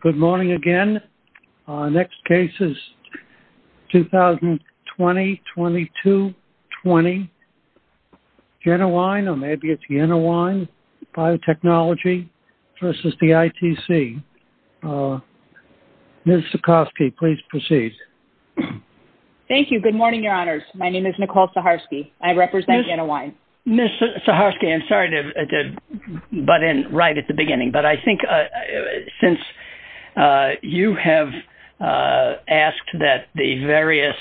Good morning again. Our next case is 2020-22-20. Jennewein, or maybe it's Yennewein Biotechnologie v. ITC. Ms. Sikorsky, please proceed. Thank you. Good morning, Your Honors. My name is Nicole Sikorsky. I represent Jennewein. Ms. Sikorsky, I'm sorry to butt in right at the beginning, but I think since you have asked that the various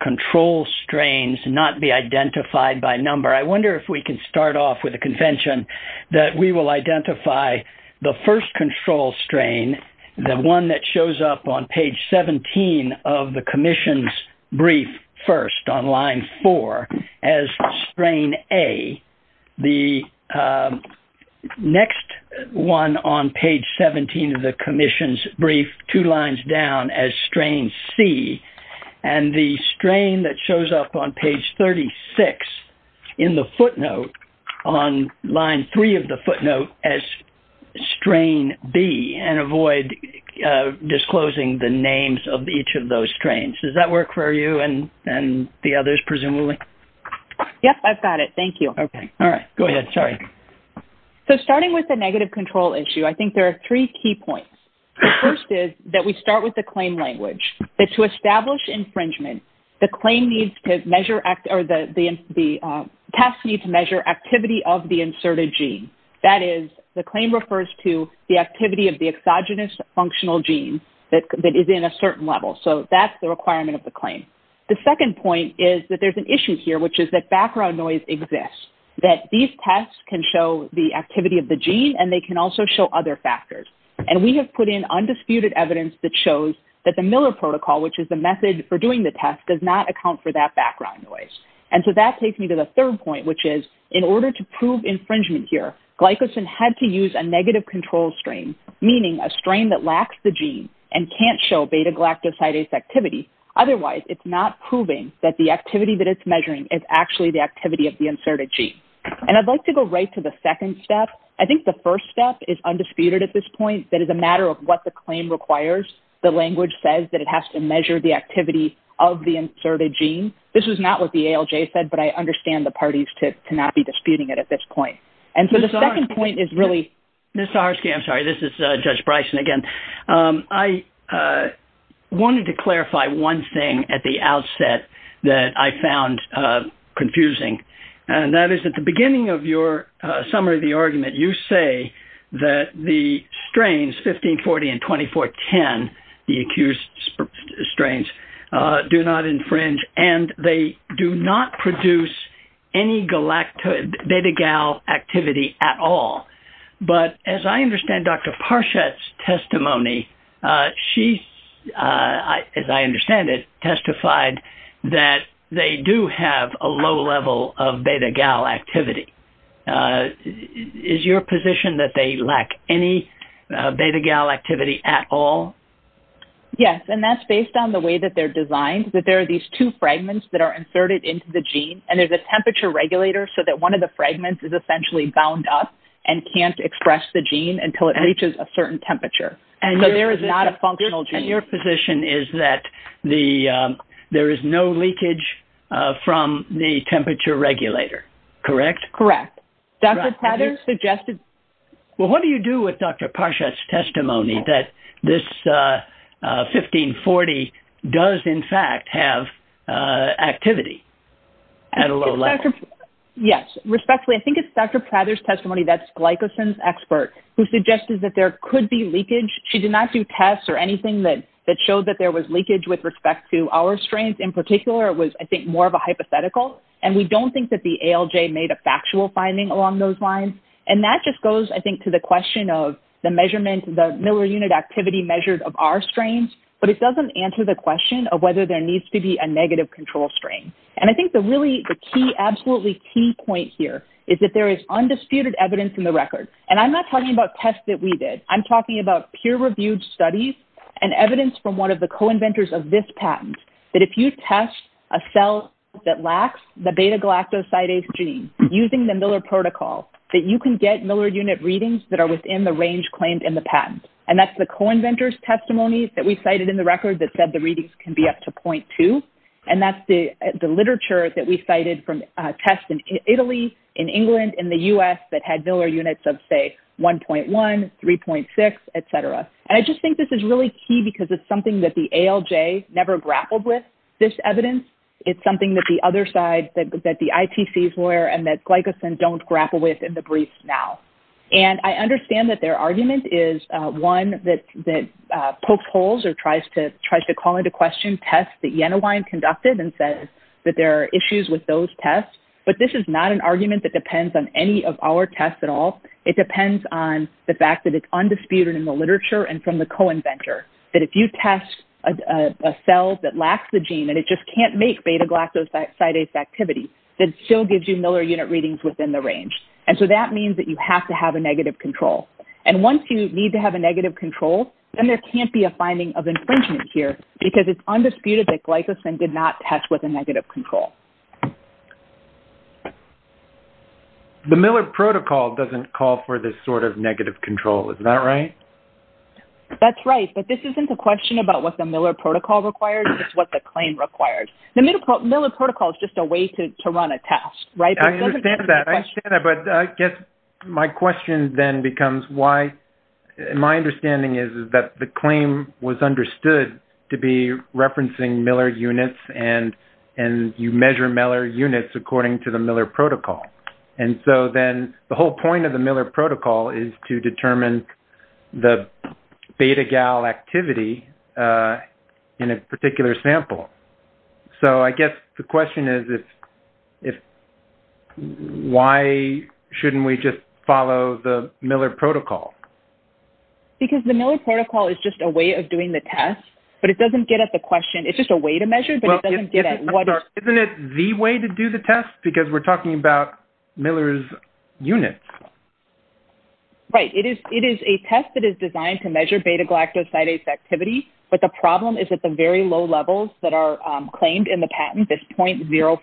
control strains not be identified by number, I wonder if we can start off with a convention that we will identify the first control strain, the one that shows up on page 17 of the Commission's brief first on line 4 as strain A. The next one on page 17 of the Commission's brief, two lines down, as strain C. And the strain that shows up on page 36 in the footnote on line 3 of the footnote as strain B, and avoid disclosing the names of each of those strains. Does that work for you? And the others, presumably? Yes, I've got it. Thank you. Okay. All right. Go ahead. Sorry. So, starting with the negative control issue, I think there are three key points. The first is that we start with the claim language, that to establish infringement, the claim needs to measure or the test needs to measure activity of the inserted gene. That is, the claim refers to the activity of the exogenous functional gene that is in a certain level. So, that's the requirement of the claim. The second point is that there's an issue here, which is that background noise exists, that these tests can show the activity of the gene and they can also show other factors. And we have put in undisputed evidence that shows that the Miller Protocol, which is the method for doing the test, does not account for that background noise. And so, that takes me to the third point, which is, in order to prove infringement here, a strain that lacks the gene and can't show beta-galactosidase activity. Otherwise, it's not proving that the activity that it's measuring is actually the activity of the inserted gene. And I'd like to go right to the second step. I think the first step is undisputed at this point. That is a matter of what the claim requires. The language says that it has to measure the activity of the inserted gene. This is not what the ALJ said, but I understand the parties to not be disputing it at this point. And so, the second point is really... I'm sorry, this is Judge Bryson again. I wanted to clarify one thing at the outset that I found confusing. And that is, at the beginning of your summary of the argument, you say that the strains 1540 and 2410, the accused strains, do not infringe and they do not produce any beta-gal activity at all. But as I understand Dr. Parshad's testimony, she, as I understand it, testified that they do have a low level of beta-gal activity. Is your position that they lack any beta-gal activity at all? Yes. And that's based on the way that they're designed, that there are these two fragments that are inserted into the gene, and there's a temperature regulator so that one of the fragments is essentially bound up and can't express the gene until it reaches a certain temperature. So, there is not a functional gene. And your position is that there is no leakage from the temperature regulator, correct? Correct. Dr. Patterson suggested... Well, what do you do with Dr. Parshad's testimony that this 1540 does, in fact, have activity at a low level? Yes. Respectfully, I think it's Dr. Prather's testimony that's Glycosin's expert who suggested that there could be leakage. She did not do tests or anything that showed that there was leakage with respect to our strains. In particular, it was, I think, more of a hypothetical. And we don't think that the ALJ made a factual finding along those lines. And that just goes, I think, to the question of the measurement, the Miller unit activity measured of our strains, but it doesn't answer the question of whether there needs to be a negative control strain. And I think the really key, absolutely key point here is that there is undisputed evidence in the record. And I'm not talking about tests that we did. I'm talking about peer-reviewed studies and evidence from one of the co-inventors of this that you can get Miller unit readings that are within the range claimed in the patent. And that's the co-inventors' testimonies that we cited in the record that said the readings can be up to 0.2. And that's the literature that we cited from tests in Italy, in England, in the U.S. that had Miller units of, say, 1.1, 3.6, etc. And I just think this is really key because it's something that the ALJ never grappled with, this evidence. It's something that the other side, that the ITC's lawyer and that Glycosin don't grapple with in the brief now. And I understand that their argument is one that pokes holes or tries to call into question tests that Jenawein conducted and says that there are issues with those tests. But this is not an argument that depends on any of our tests at all. It depends on the fact that it's undisputed in the literature and from the co-inventor, that if you test a cell that lacks the gene and it just can't make beta-galactosidase activity, that still gives you Miller unit readings within the range. And so that means that you have to have a negative control. And once you need to have a negative control, then there can't be a finding of infringement here because it's undisputed that Glycosin did not test with a negative control. The Miller Protocol doesn't call for this sort of negative control. Is that right? That's right. But this isn't a question about what the Miller Protocol requires. It's the claim requires. The Miller Protocol is just a way to run a test, right? I understand that. I understand that. But I guess my question then becomes why-my understanding is that the claim was understood to be referencing Miller units and you measure Miller units according to the Miller Protocol. And so then the whole point of the Miller Protocol is to determine the beta-galactivity in a particular sample. So I guess the question is, why shouldn't we just follow the Miller Protocol? Because the Miller Protocol is just a way of doing the test, but it doesn't get at the question. It's just a way to measure, but it doesn't get at what- Isn't it the way to do the test? Because we're talking about Miller's units. Right. It is a test that is designed to measure beta-galactosidase activity, but the problem is at the very low levels that are claimed in the patent, this 0.05,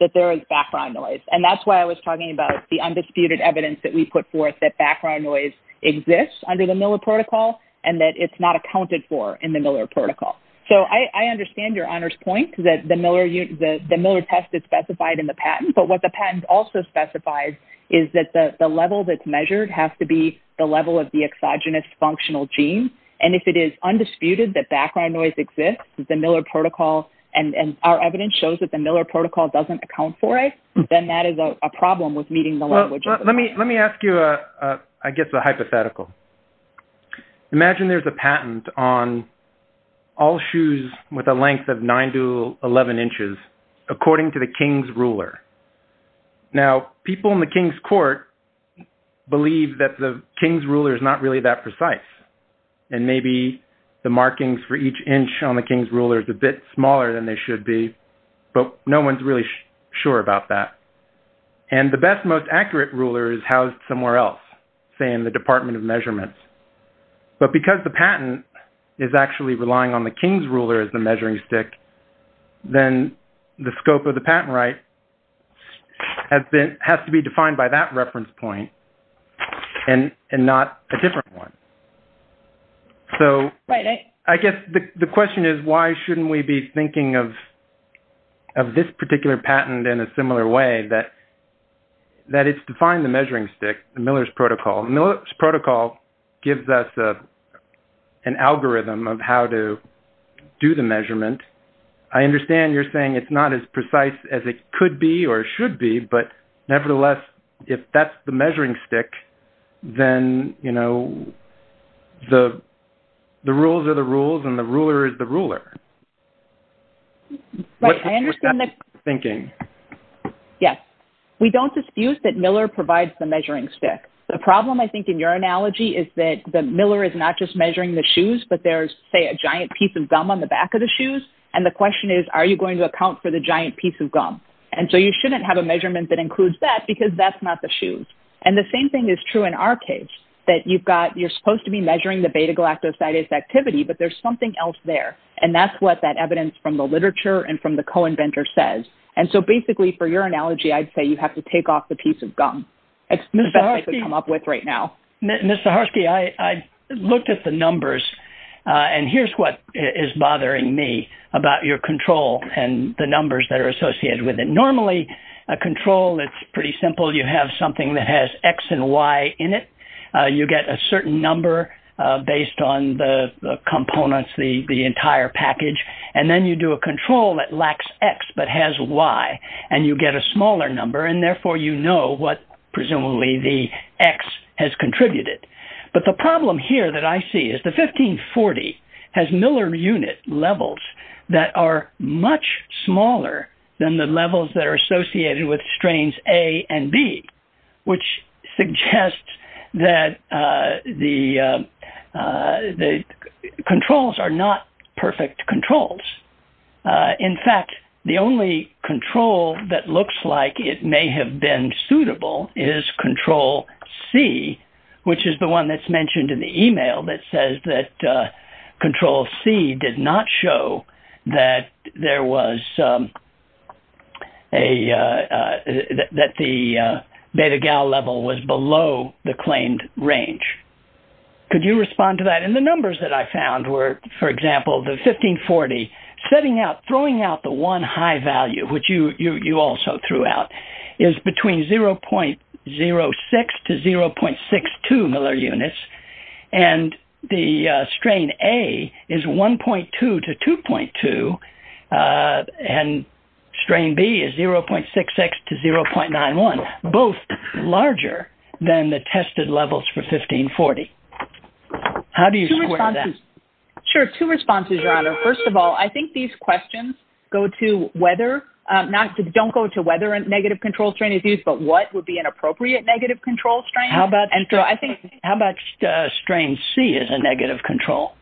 that there is background noise. And that's why I was talking about the undisputed evidence that we put forth that background noise exists under the Miller Protocol and that it's not accounted for in the Miller Protocol. So I understand your honor's point, that the Miller test is specified in the patent, but what the patent also specifies is that the level that's measured has to be the level of the exogenous functional gene. And if it is undisputed that background noise exists with the Miller Protocol, and our evidence shows that the Miller Protocol doesn't account for it, then that is a problem with meeting the language. Let me ask you, I guess, a hypothetical. Imagine there's a patent on all shoes with a length of 9 to 11 inches, according to the King's ruler. Now, people in the King's court believe that the King's ruler is not really that precise, and maybe the markings for each inch on the King's ruler is a bit smaller than they should be, but no one's really sure about that. And the best, most accurate ruler is housed somewhere else, say, in the Department of Measurements. But because the patent is actually relying on the King's ruler as the measuring stick, then the scope of the patent right has to be defined by that reference point and not a different one. So I guess the question is, why shouldn't we be thinking of this particular patent in a similar way that it's defined the measuring stick, the Miller's Protocol? The Miller's Protocol gives us an algorithm of how to do the measurement. I understand you're saying it's not as precise as it could be or should be, but nevertheless, if that's the measuring stick, then, you know, the rules are the rules, and the ruler is the ruler. What's that thinking? Yes. We don't disfuse that Miller provides the measuring stick. The problem, I think, in your analogy is that Miller is not just measuring the shoes, but there's, say, a giant piece of gum on the back of the shoes. And the question is, are you going to account for the giant piece of gum? And so you shouldn't have a measurement that includes that because that's not the shoes. And the same thing is true in our case, that you've got, you're supposed to be measuring the beta galactosidase activity, but there's something else there. And that's what that evidence from the literature and from the co-inventor says. And so basically, for your analogy, I'd say you have to take off the piece of gum. It's the best I could come up with right now. Ms. Zaharsky, I looked at the numbers, and here's what is bothering me about your control and the numbers that are associated with it. Normally, a control, it's pretty simple. You have something that has X and Y in it. You get a certain number based on the components, the Y, and you get a smaller number. And therefore, you know what presumably the X has contributed. But the problem here that I see is the 1540 has Miller unit levels that are much smaller than the levels that are associated with strains A and B, which suggests that the control that looks like it may have been suitable is control C, which is the one that's mentioned in the email that says that control C did not show that the beta gal level was below the claimed range. Could you respond to that? And the numbers that I found were, for example, the 1540 setting out, throwing out the one high value, which you also threw out, is between 0.06 to 0.62 Miller units, and the strain A is 1.2 to 2.2, and strain B is 0.66 to 0.91, both larger than the tested levels for 1540. How do you respond to that? Sure. Two responses, Your Honor. First of all, I think these questions go to whether, not to, don't go to whether a negative control strain is used, but what would be an appropriate negative control strain. How about, and so I think, how about strain C as a negative control?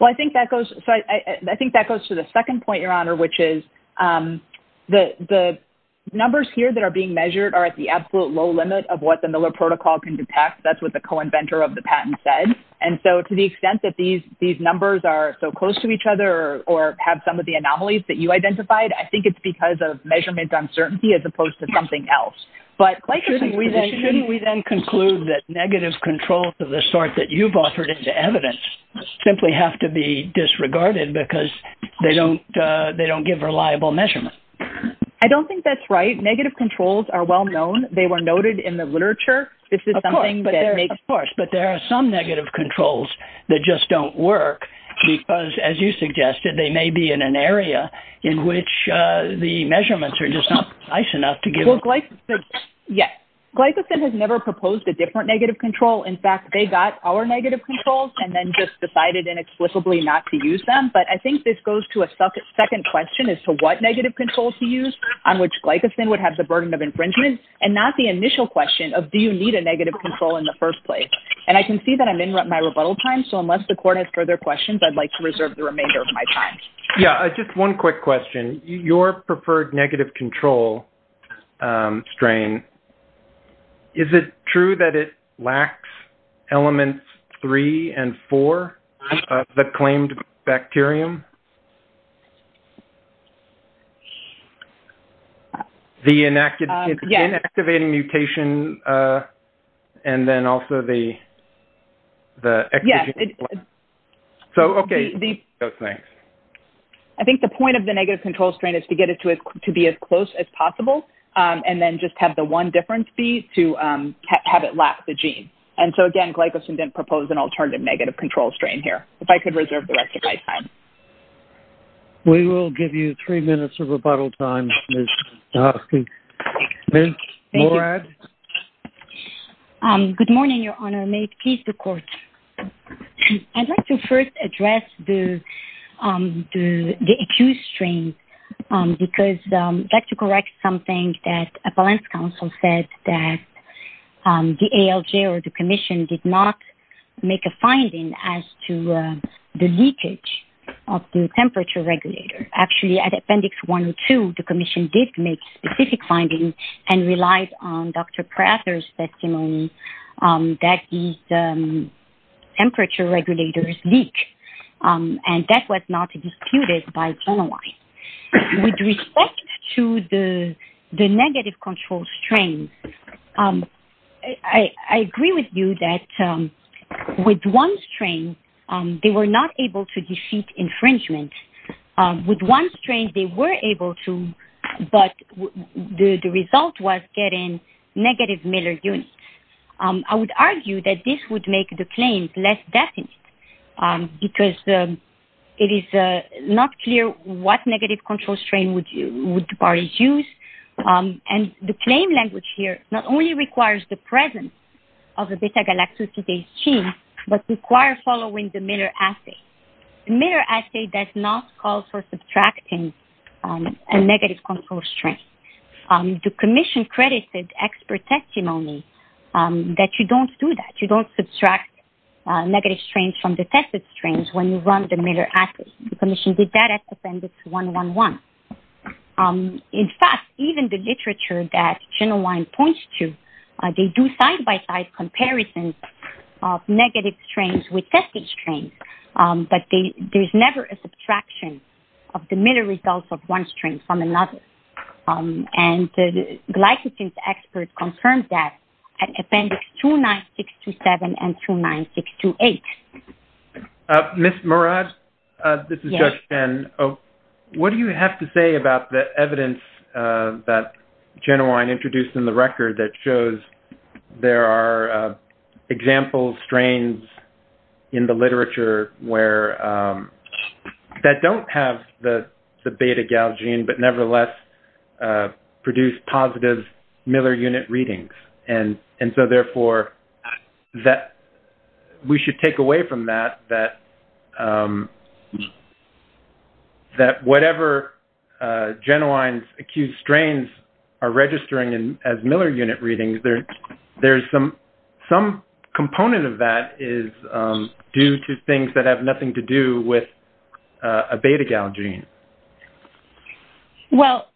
Well, I think that goes, so I think that goes to the second point, Your Honor, which is that the numbers here that are being measured are at the absolute low limit of what the Miller protocol can detect. That's what the co-inventor of the patent said. And so, to the extent that these numbers are so close to each other or have some of the anomalies that you identified, I think it's because of measurement uncertainty as opposed to something else. But shouldn't we then conclude that negative controls of the sort that you've offered into measurement? I don't think that's right. Negative controls are well known. They were noted in the literature. This is something that makes sense. Of course, but there are some negative controls that just don't work because, as you suggested, they may be in an area in which the measurements are just not precise enough to give... Well, glycosid, yes. Glycosid has never proposed a different negative control. In fact, they got our negative controls and then just decided inexplicably not to use them. But I think this goes to a second question as to what negative control to use on which glycosid would have the burden of infringement and not the initial question of, do you need a negative control in the first place? And I can see that I'm in my rebuttal time, so unless the court has further questions, I'd like to reserve the remainder of my time. Yeah, just one quick question. Your preferred negative control strain, is it true that it is... The inactivating mutation and then also the... So, okay. I think the point of the negative control strain is to get it to be as close as possible and then just have the one difference be to have it lack the gene. And so, again, glycosid didn't propose an alternative negative control strain here. If I could reserve the rest of my time. We will give you three minutes of rebuttal time, Ms. Dahosky. Good morning, Your Honor. May it please the court. I'd like to first address the accused strain because I'd like to correct something that a balance counsel said that the ALJ or the commission did not make a finding as to the leakage of the temperature regulator. Actually, at Appendix 102, the commission did make specific findings and relied on Dr. Prather's testimony that these temperature regulators leak. And that was not disputed by Genoise. With respect to the negative control strain, I agree with you that with one strain, they were not able to defeat infringement. With one strain, they were able to, but the result was getting negative Miller units. I would argue that this would make the claims less definite because it is not clear what negative control strain would the parties use. And the claim language here not only requires the presence of a beta-galactosidase gene, but requires following the Miller assay. The Miller assay does not call for subtracting a negative control strain. The commission credited expert testimony that you don't do that. You don't subtract negative strains from the tested strains when you run the Miller assay. The commission did that at Appendix 111. In fact, even the literature that Genoise points to, they do side-by-side comparisons of negative strains with tested strains, but there's never a subtraction of the Miller results of one strain from another. And the glycogen expert confirmed that at Appendix 29627 and 29628. Ms. Murad, this is Judge Chen. What do you have to say about the evidence that Genoise introduced in the record that shows there are example strains in the literature where that don't have the beta-gal gene, but nevertheless produce positive Miller unit readings? And so, therefore, we should take away from that that whatever Genoines-accused strains are registering as Miller unit readings, there's some component of that is due to things that have nothing to do with a beta-gal gene. Well,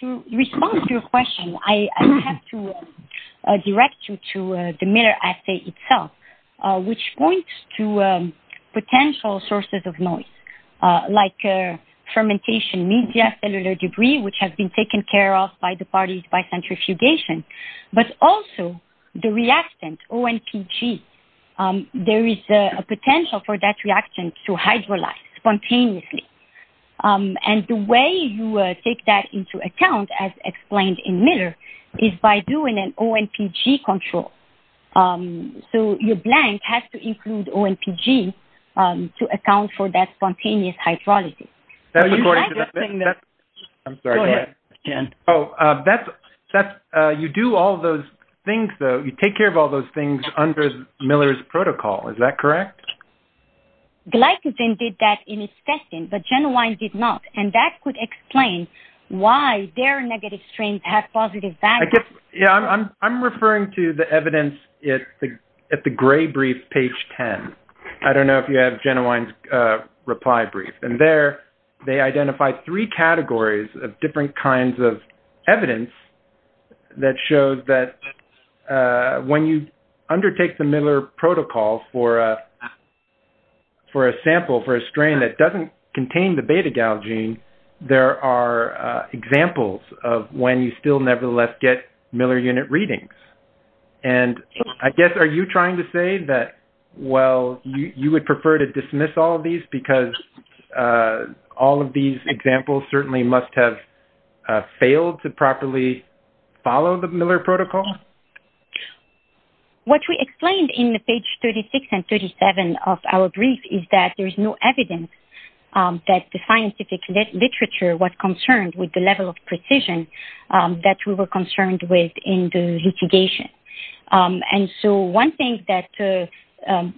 to respond to your question, I have to direct you to the Miller assay itself, which points to potential sources of noise, like fermentation media, cellular debris, which has been taken care of by the parties by centrifugation, but also the reactant ONPG. There is a potential for that reactant to hydrolyze spontaneously. And the way you take that into account, as explained in Miller, is by doing an ONPG control. So, your blank has to include ONPG to account for that spontaneous hydrolysis. You do all those things, though. You take care of all those things under Miller's protocol. Is that correct? Glycogen did that in its testing, but Genoines did not. And that could explain why their negative strains have positive values. Yeah, I'm referring to the there, they identified three categories of different kinds of evidence that shows that when you undertake the Miller protocol for a sample, for a strain that doesn't contain the beta-gal gene, there are examples of when you still nevertheless get Miller unit readings. And I guess, are you trying to say that, well, you would prefer to dismiss all of these because all of these examples certainly must have failed to properly follow the Miller protocol? What we explained in the page 36 and 37 of our brief is that there is no evidence that the scientific literature was concerned with the level of precision that we were concerned with in the litigation. And so, one thing that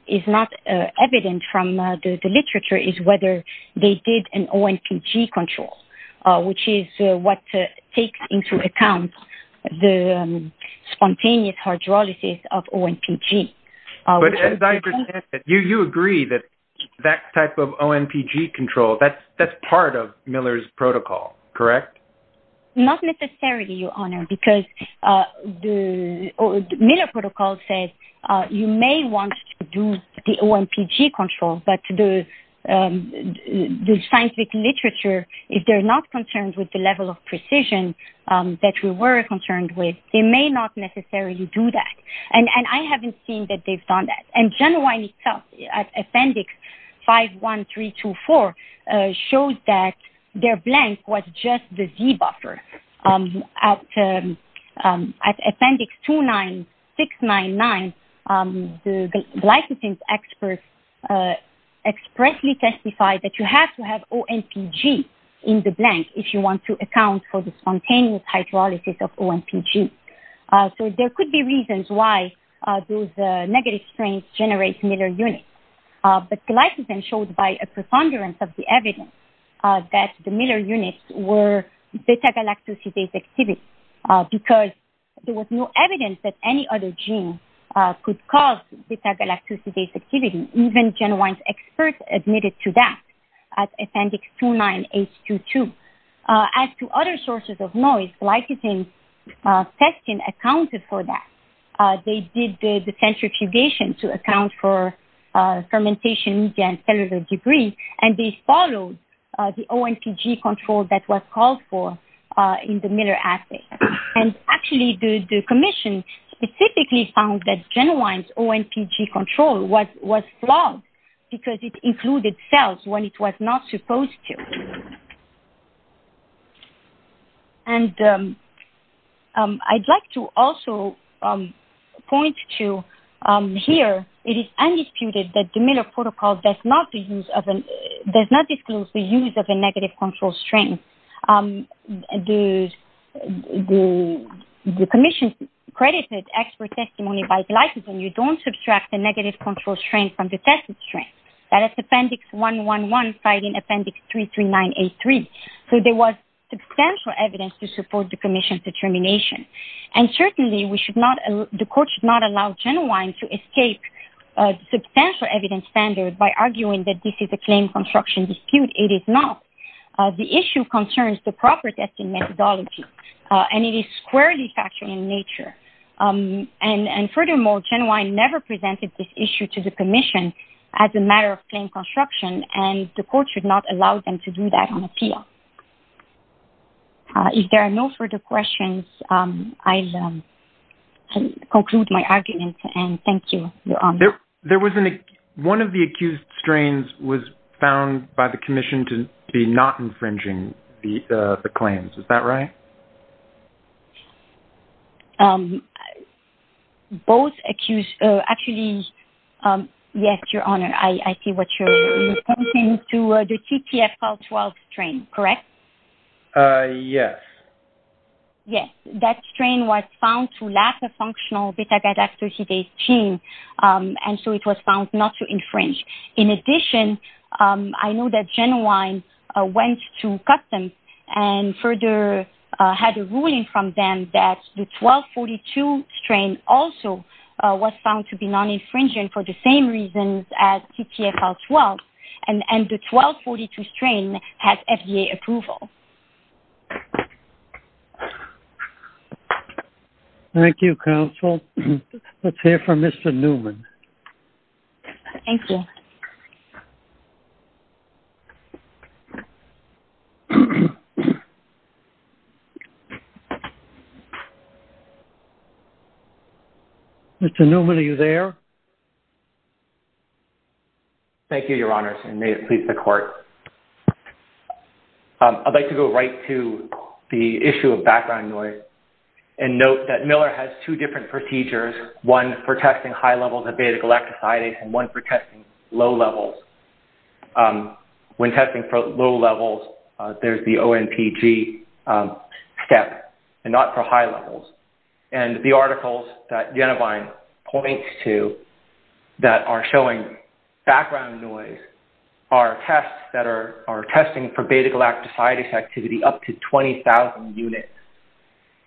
is not evident from the literature is whether they did an ONPG control, which is what takes into account the spontaneous hydrolysis of ONPG. But as I understand it, you agree that that type of ONPG control, that's part of Miller's protocol, correct? Not necessarily, because the Miller protocol says you may want to do the ONPG control, but the scientific literature, if they're not concerned with the level of precision that we were concerned with, they may not necessarily do that. And I haven't seen that they've done that. Genuine itself, Appendix 51324, shows that their blank was just the Z-buffer. At Appendix 29699, the licensing experts expressly testified that you have to have ONPG in the blank if you want to account for the spontaneous hydrolysis of ONPG. So, there could be reasons why those negative strains generate Miller units. But glycogen showed by a preponderance of the evidence that the Miller units were beta-galactosidase activity, because there was no evidence that any other gene could cause beta-galactosidase activity. Even genuine experts admitted to that at Appendix 29822. As to other sources of noise, glycogen testing accounted for that. They did the centrifugation to account for fermentation media and cellular debris, and they followed the ONPG control that was called for in the Miller assay. And actually, the commission specifically found that genuine ONPG control was flawed because it included cells when it was not supposed to. And I'd like to also point to here, it is undisputed that the Miller protocol does not disclose the use of a negative control strain. The commission credited expert testimony by glycogen. You don't subtract the negative control strain from the tested strain. That is Appendix 111 citing Appendix 33983. So there was substantial evidence to support the commission's determination. And certainly, the court should not allow Genwine to escape substantial evidence standard by arguing that this is a claim construction dispute. It is not. The issue concerns the proper testing methodology, and it is squarely factual in nature. And furthermore, Genwine never presented this issue to the commission as a matter of claim construction, and the court should not allow them to do that on appeal. If there are no further questions, I'll conclude my argument, and thank you, Leon. One of the accused strains was found by the commission to be not infringing the claims. Is that right? Both accused... Actually, yes, Your Honor. I see what you're... To the TTF-CAL12 strain, correct? Yes. Yes. That strain was found to lack a functional beta-gadactyl-cdase gene, and so it was found not to infringe. In addition, I know that Genwine went to customs and further had a ruling from them that the 1242 strain also was found to be non-infringing for the same reasons as TTF-CAL12, and the 1242 strain has FDA approval. Thank you, counsel. Let's hear from Mr. Newman. Thank you. Mr. Newman, are you there? Thank you, Your Honors, and may it please the court. I'd like to go right to the issue of background noise and note that Miller has two different procedures, one for testing high levels of beta-galactosidase and one for testing low levels. When testing for low levels, there's the ONPG step and not for high levels, and the articles that Genwine points to that are showing background noise are tests that are testing for beta-galactosidase activity up to 20,000 units,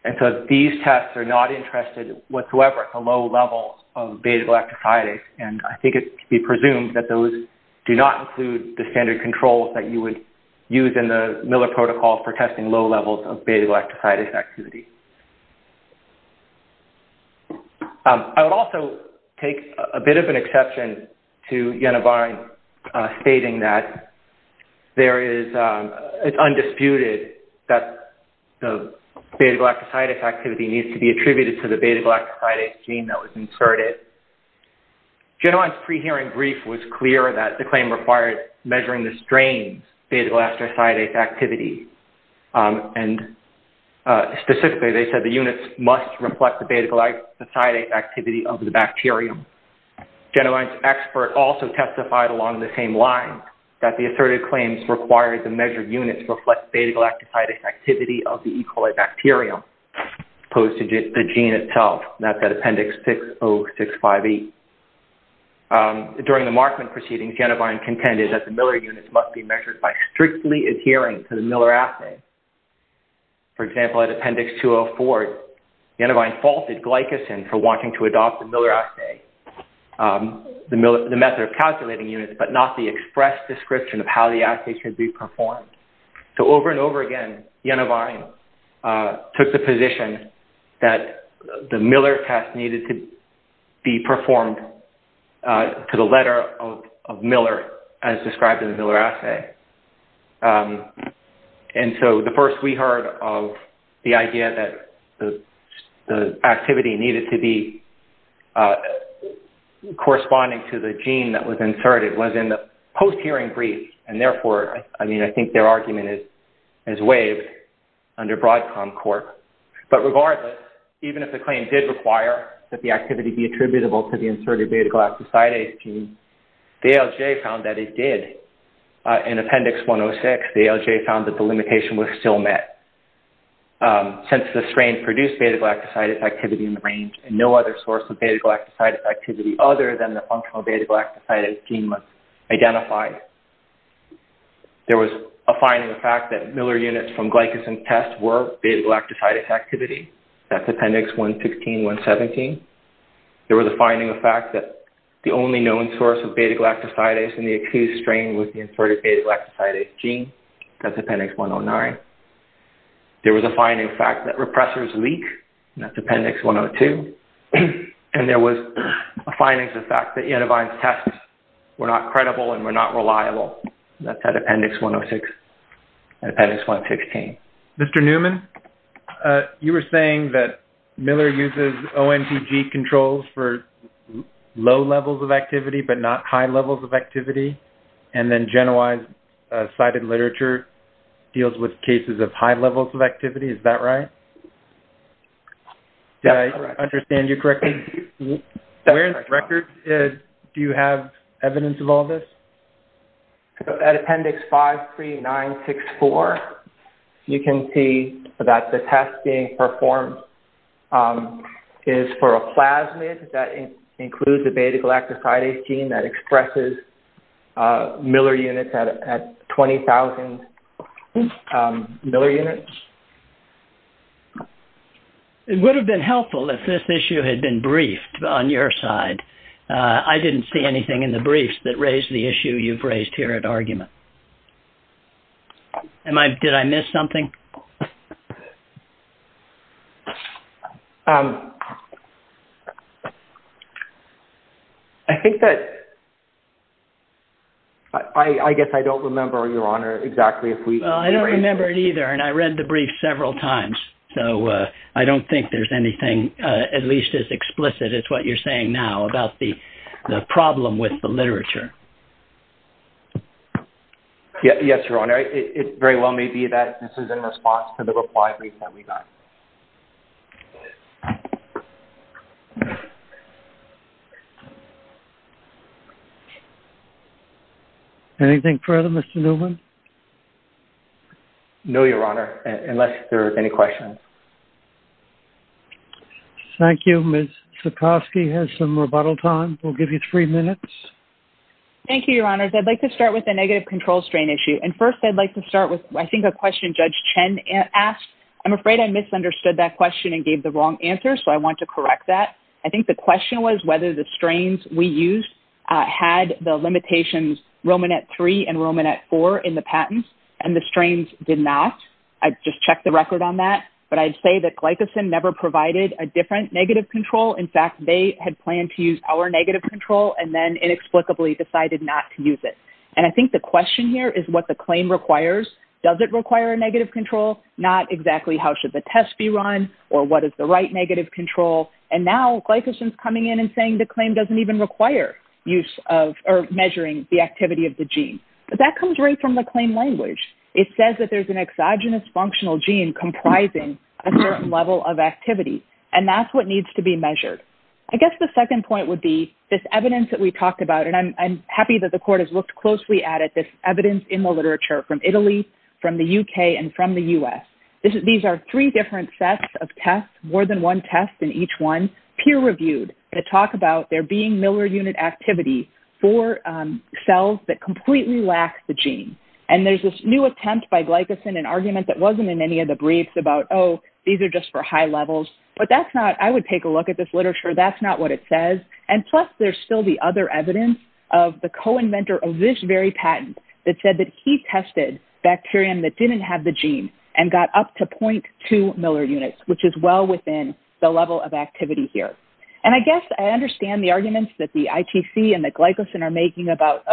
and so these tests are not interested whatsoever at the low levels of beta-galactosidase, and I think it can be presumed that those do not include the standard controls that you would use in the Miller protocol for testing low levels of beta-galactosidase activity. I would also take a bit of an exception to Genwine stating that it's undisputed that the beta-galactosidase activity needs to be attributed to the beta-galactosidase gene that was inserted. Genwine's pre-hearing brief was clear that the claim required measuring the strains beta-galactosidase activity, and specifically they said the units must reflect the beta-galactosidase activity of the bacterium. Genwine's expert also testified along the same lines that the asserted claims required the measured units reflect beta-galactosidase activity of the E. coli bacterium, opposed to the gene itself. That's at Appendix 60658. During the Markman proceedings, Genwine contended that the Miller units must be measured by strictly adhering to the Miller assay. For example, at Appendix 204, Genwine faulted glycosin for wanting to adopt the Miller assay, the method of calculating units, but not the expressed description of how the assay should be performed. So over and over again, Genwine took the position that the Miller test needed to be performed to the letter of Miller as described in the Miller assay. And so the first we heard of the idea that the activity needed to be corresponding to the gene that was inserted was in the post-hearing brief, and therefore, I mean, I think there argument is waived under Broadcom court. But regardless, even if the claim did require that the activity be attributable to the inserted beta-galactosidase gene, the ALJ found that it did. In Appendix 106, the ALJ found that the limitation was still met, since the strain produced beta-galactosidase activity in the range and no other source of beta-galactosidase activity other than the functional beta-galactosidase gene must identify. There was a finding of fact that Miller units from glycosin tests were beta-galactosidase activity. That's Appendix 116, 117. There was a finding of fact that the only known source of beta-galactosidase in the accused strain was the inserted beta-galactosidase gene. That's Appendix 109. There was a finding of fact that repressors leak. That's Appendix 102. And there was a finding of fact that Yenivine's tests were not credible and were not reliable That's at Appendix 106, Appendix 116. Mr. Newman, you were saying that Miller uses ONTG controls for low levels of activity, but not high levels of activity, and then GenY's cited literature deals with cases of high levels of activity. Is that right? Did I understand you correctly? Where in the record do you have evidence of all this? At Appendix 53964, you can see that the test being performed is for a plasmid that includes the beta-galactosidase gene that expresses Miller units at 20,000 Miller units. It would have been helpful if this issue had been briefed on your side. I didn't see anything in the briefs that raised the issue you've raised here at argument. Did I miss something? I think that I guess I don't remember, Your Honor, exactly if we Well, I don't remember it either. And I read the brief several times. So I don't think there's anything at least as explicit as what you're saying now about the problem with the literature. Yes, Your Honor. It very well may be that this is in response to the reply brief that we got. Anything further, Mr. Newman? No, Your Honor, unless there are any questions. Thank you, Ms. Zukosky has some rebuttal time. We'll give you three minutes. Thank you, Your Honors. I'd like to start with the negative control strain issue. And first, I'd like to start with, I think, a question Judge Chen asked. I'm afraid I misunderstood that question and gave the wrong answer. So I want to correct that. I think the question was whether the strains we used had the limitations Romanet 3 and Romanet 4 in the patents. And the strains did not. I just checked the record on that. I'd say that glycosin never provided a different negative control. In fact, they had planned to use our negative control and then inexplicably decided not to use it. And I think the question here is what the claim requires. Does it require a negative control? Not exactly how should the test be run or what is the right negative control? And now glycosin is coming in and saying the claim doesn't even require use of or measuring the activity of the gene. But that comes right from the claim language. It says that there's an exogenous functional gene comprising a certain level of activity. And that's what needs to be measured. I guess the second point would be this evidence that we talked about, and I'm happy that the court has looked closely at it, this evidence in the literature from Italy, from the UK, and from the US. These are three different sets of tests, more than one test in each one, peer-reviewed to talk about there being Miller unit activity for cells that completely lack the gene. And there's this new attempt by glycosin, an argument that wasn't in any of the briefs about, oh, these are just for high levels. But that's not, I would take a look at this literature. That's not what it says. And plus, there's still the other evidence of the co-inventor of this very patent that said that he tested bacterium that didn't have the gene and got up to 0.2 Miller units, which is well within the level of activity here. And I guess I understand the arguments that the ITC and the glycosin are making about,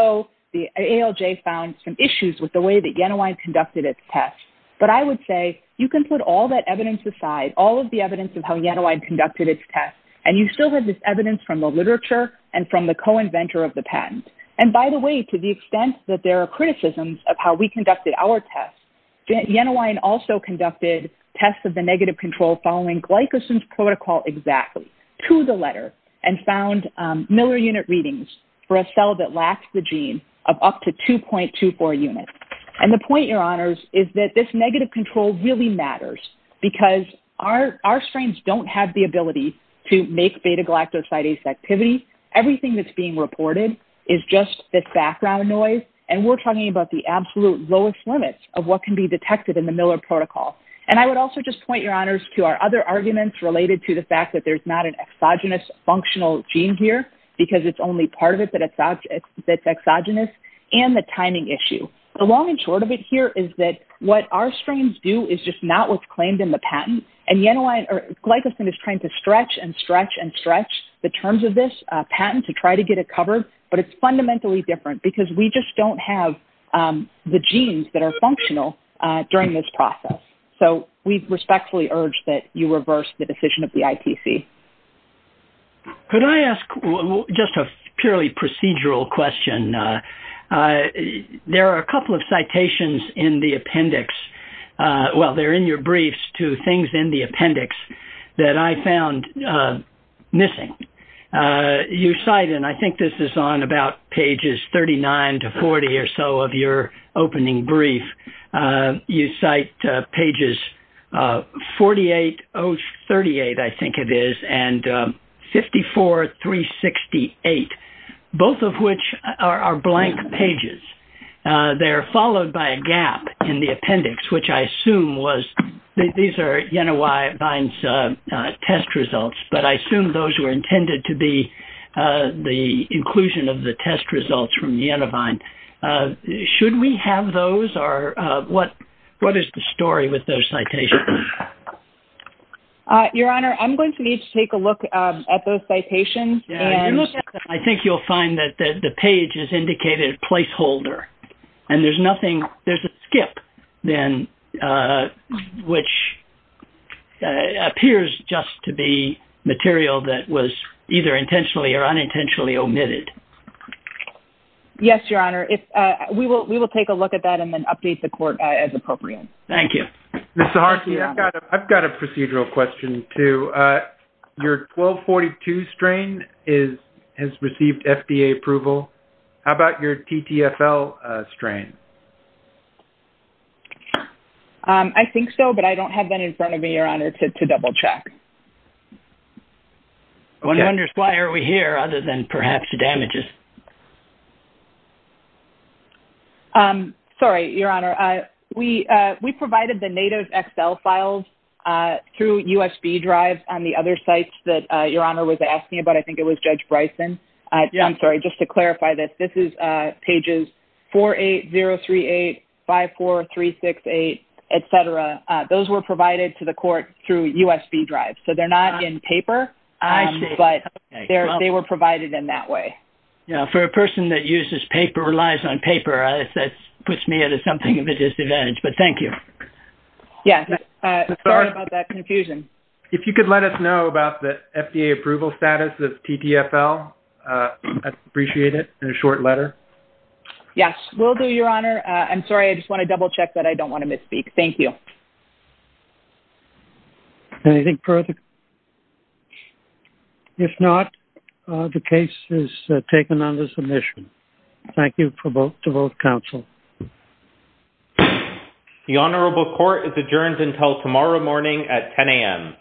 the ALJ found some issues with the way that Yenawine conducted its tests. But I would say you can put all that evidence aside, all of the evidence of how Yenawine conducted its tests, and you still have this evidence from the literature and from the co-inventor of the patent. And by the way, to the extent that there are criticisms of how we conducted our tests, Yenawine also conducted tests of the negative control following glycosin's protocol exactly to the letter and found Miller unit readings for a cell that lacks the gene of up to 2.24 units. And the point, Your Honors, is that this negative control really matters because our strains don't have the ability to make beta-galactosidase activity. Everything that's being reported is just this background noise. And we're talking about the absolute lowest limits of what can be detected in the Miller protocol. And I would also just point, Your Honors, to our other arguments related to the fact that there's not an exogenous functional gene here because it's only part of it that's exogenous and the timing issue. The long and short of it here is that what our strains do is just not what's claimed in the patent. And Yenawine or glycosin is trying to stretch and stretch and stretch the terms of this patent to try to get it covered. But it's fundamentally different because we just don't have the genes that are functional during this process. So we respectfully urge that you reverse the decision of the ITC. Could I ask just a purely procedural question? There are a couple of citations in the appendix. Well, they're in your briefs to things in the appendix that I found missing. You cite, and I think this is on about pages 39 to 40 or so of your opening brief, you cite pages 48-38, I think it is, and 54-368, both of which are blank pages. They're followed by a gap in the appendix, which I assume was, these are Yenawine's test results, but I assume those were intended to be the inclusion of the test results from Yenawine. Should we have those or what is the story with those citations? Your Honor, I'm going to need to take a look at those citations. I think you'll find that the page is indicated placeholder. And there's nothing, there's a skip which appears just to be material that was either intentionally or unintentionally omitted. Yes, Your Honor. We will take a look at that and then update the court as appropriate. Thank you. Ms. Saharsky, I've got a procedural question, too. Your 1242 strain has received FDA approval. How about your TTFL strain? I think so, but I don't have that in front of me, Your Honor, to double check. I wonder why are we here other than perhaps damages? Sorry, Your Honor. We provided the NATO's Excel files through USB drives on the other sites that Your Honor was asking about. I think it was Judge Bryson. I'm sorry, just to clarify this. This is 48038, 54368, et cetera. Those were provided to the court through USB drives. So they're not in paper, but they were provided in that way. Yeah, for a person that uses paper, relies on paper, that puts me at something of a disadvantage, but thank you. Yeah, sorry about that confusion. If you could let us know about the FDA approval status of TTFL, I'd appreciate it, in a short letter. Yes, will do, Your Honor. I'm sorry, I just want to double check that I don't want to misspeak. Thank you. Anything further? If not, the case is taken under submission. Thank you to both counsel. The Honorable Court is adjourned until tomorrow morning at 10 a.m.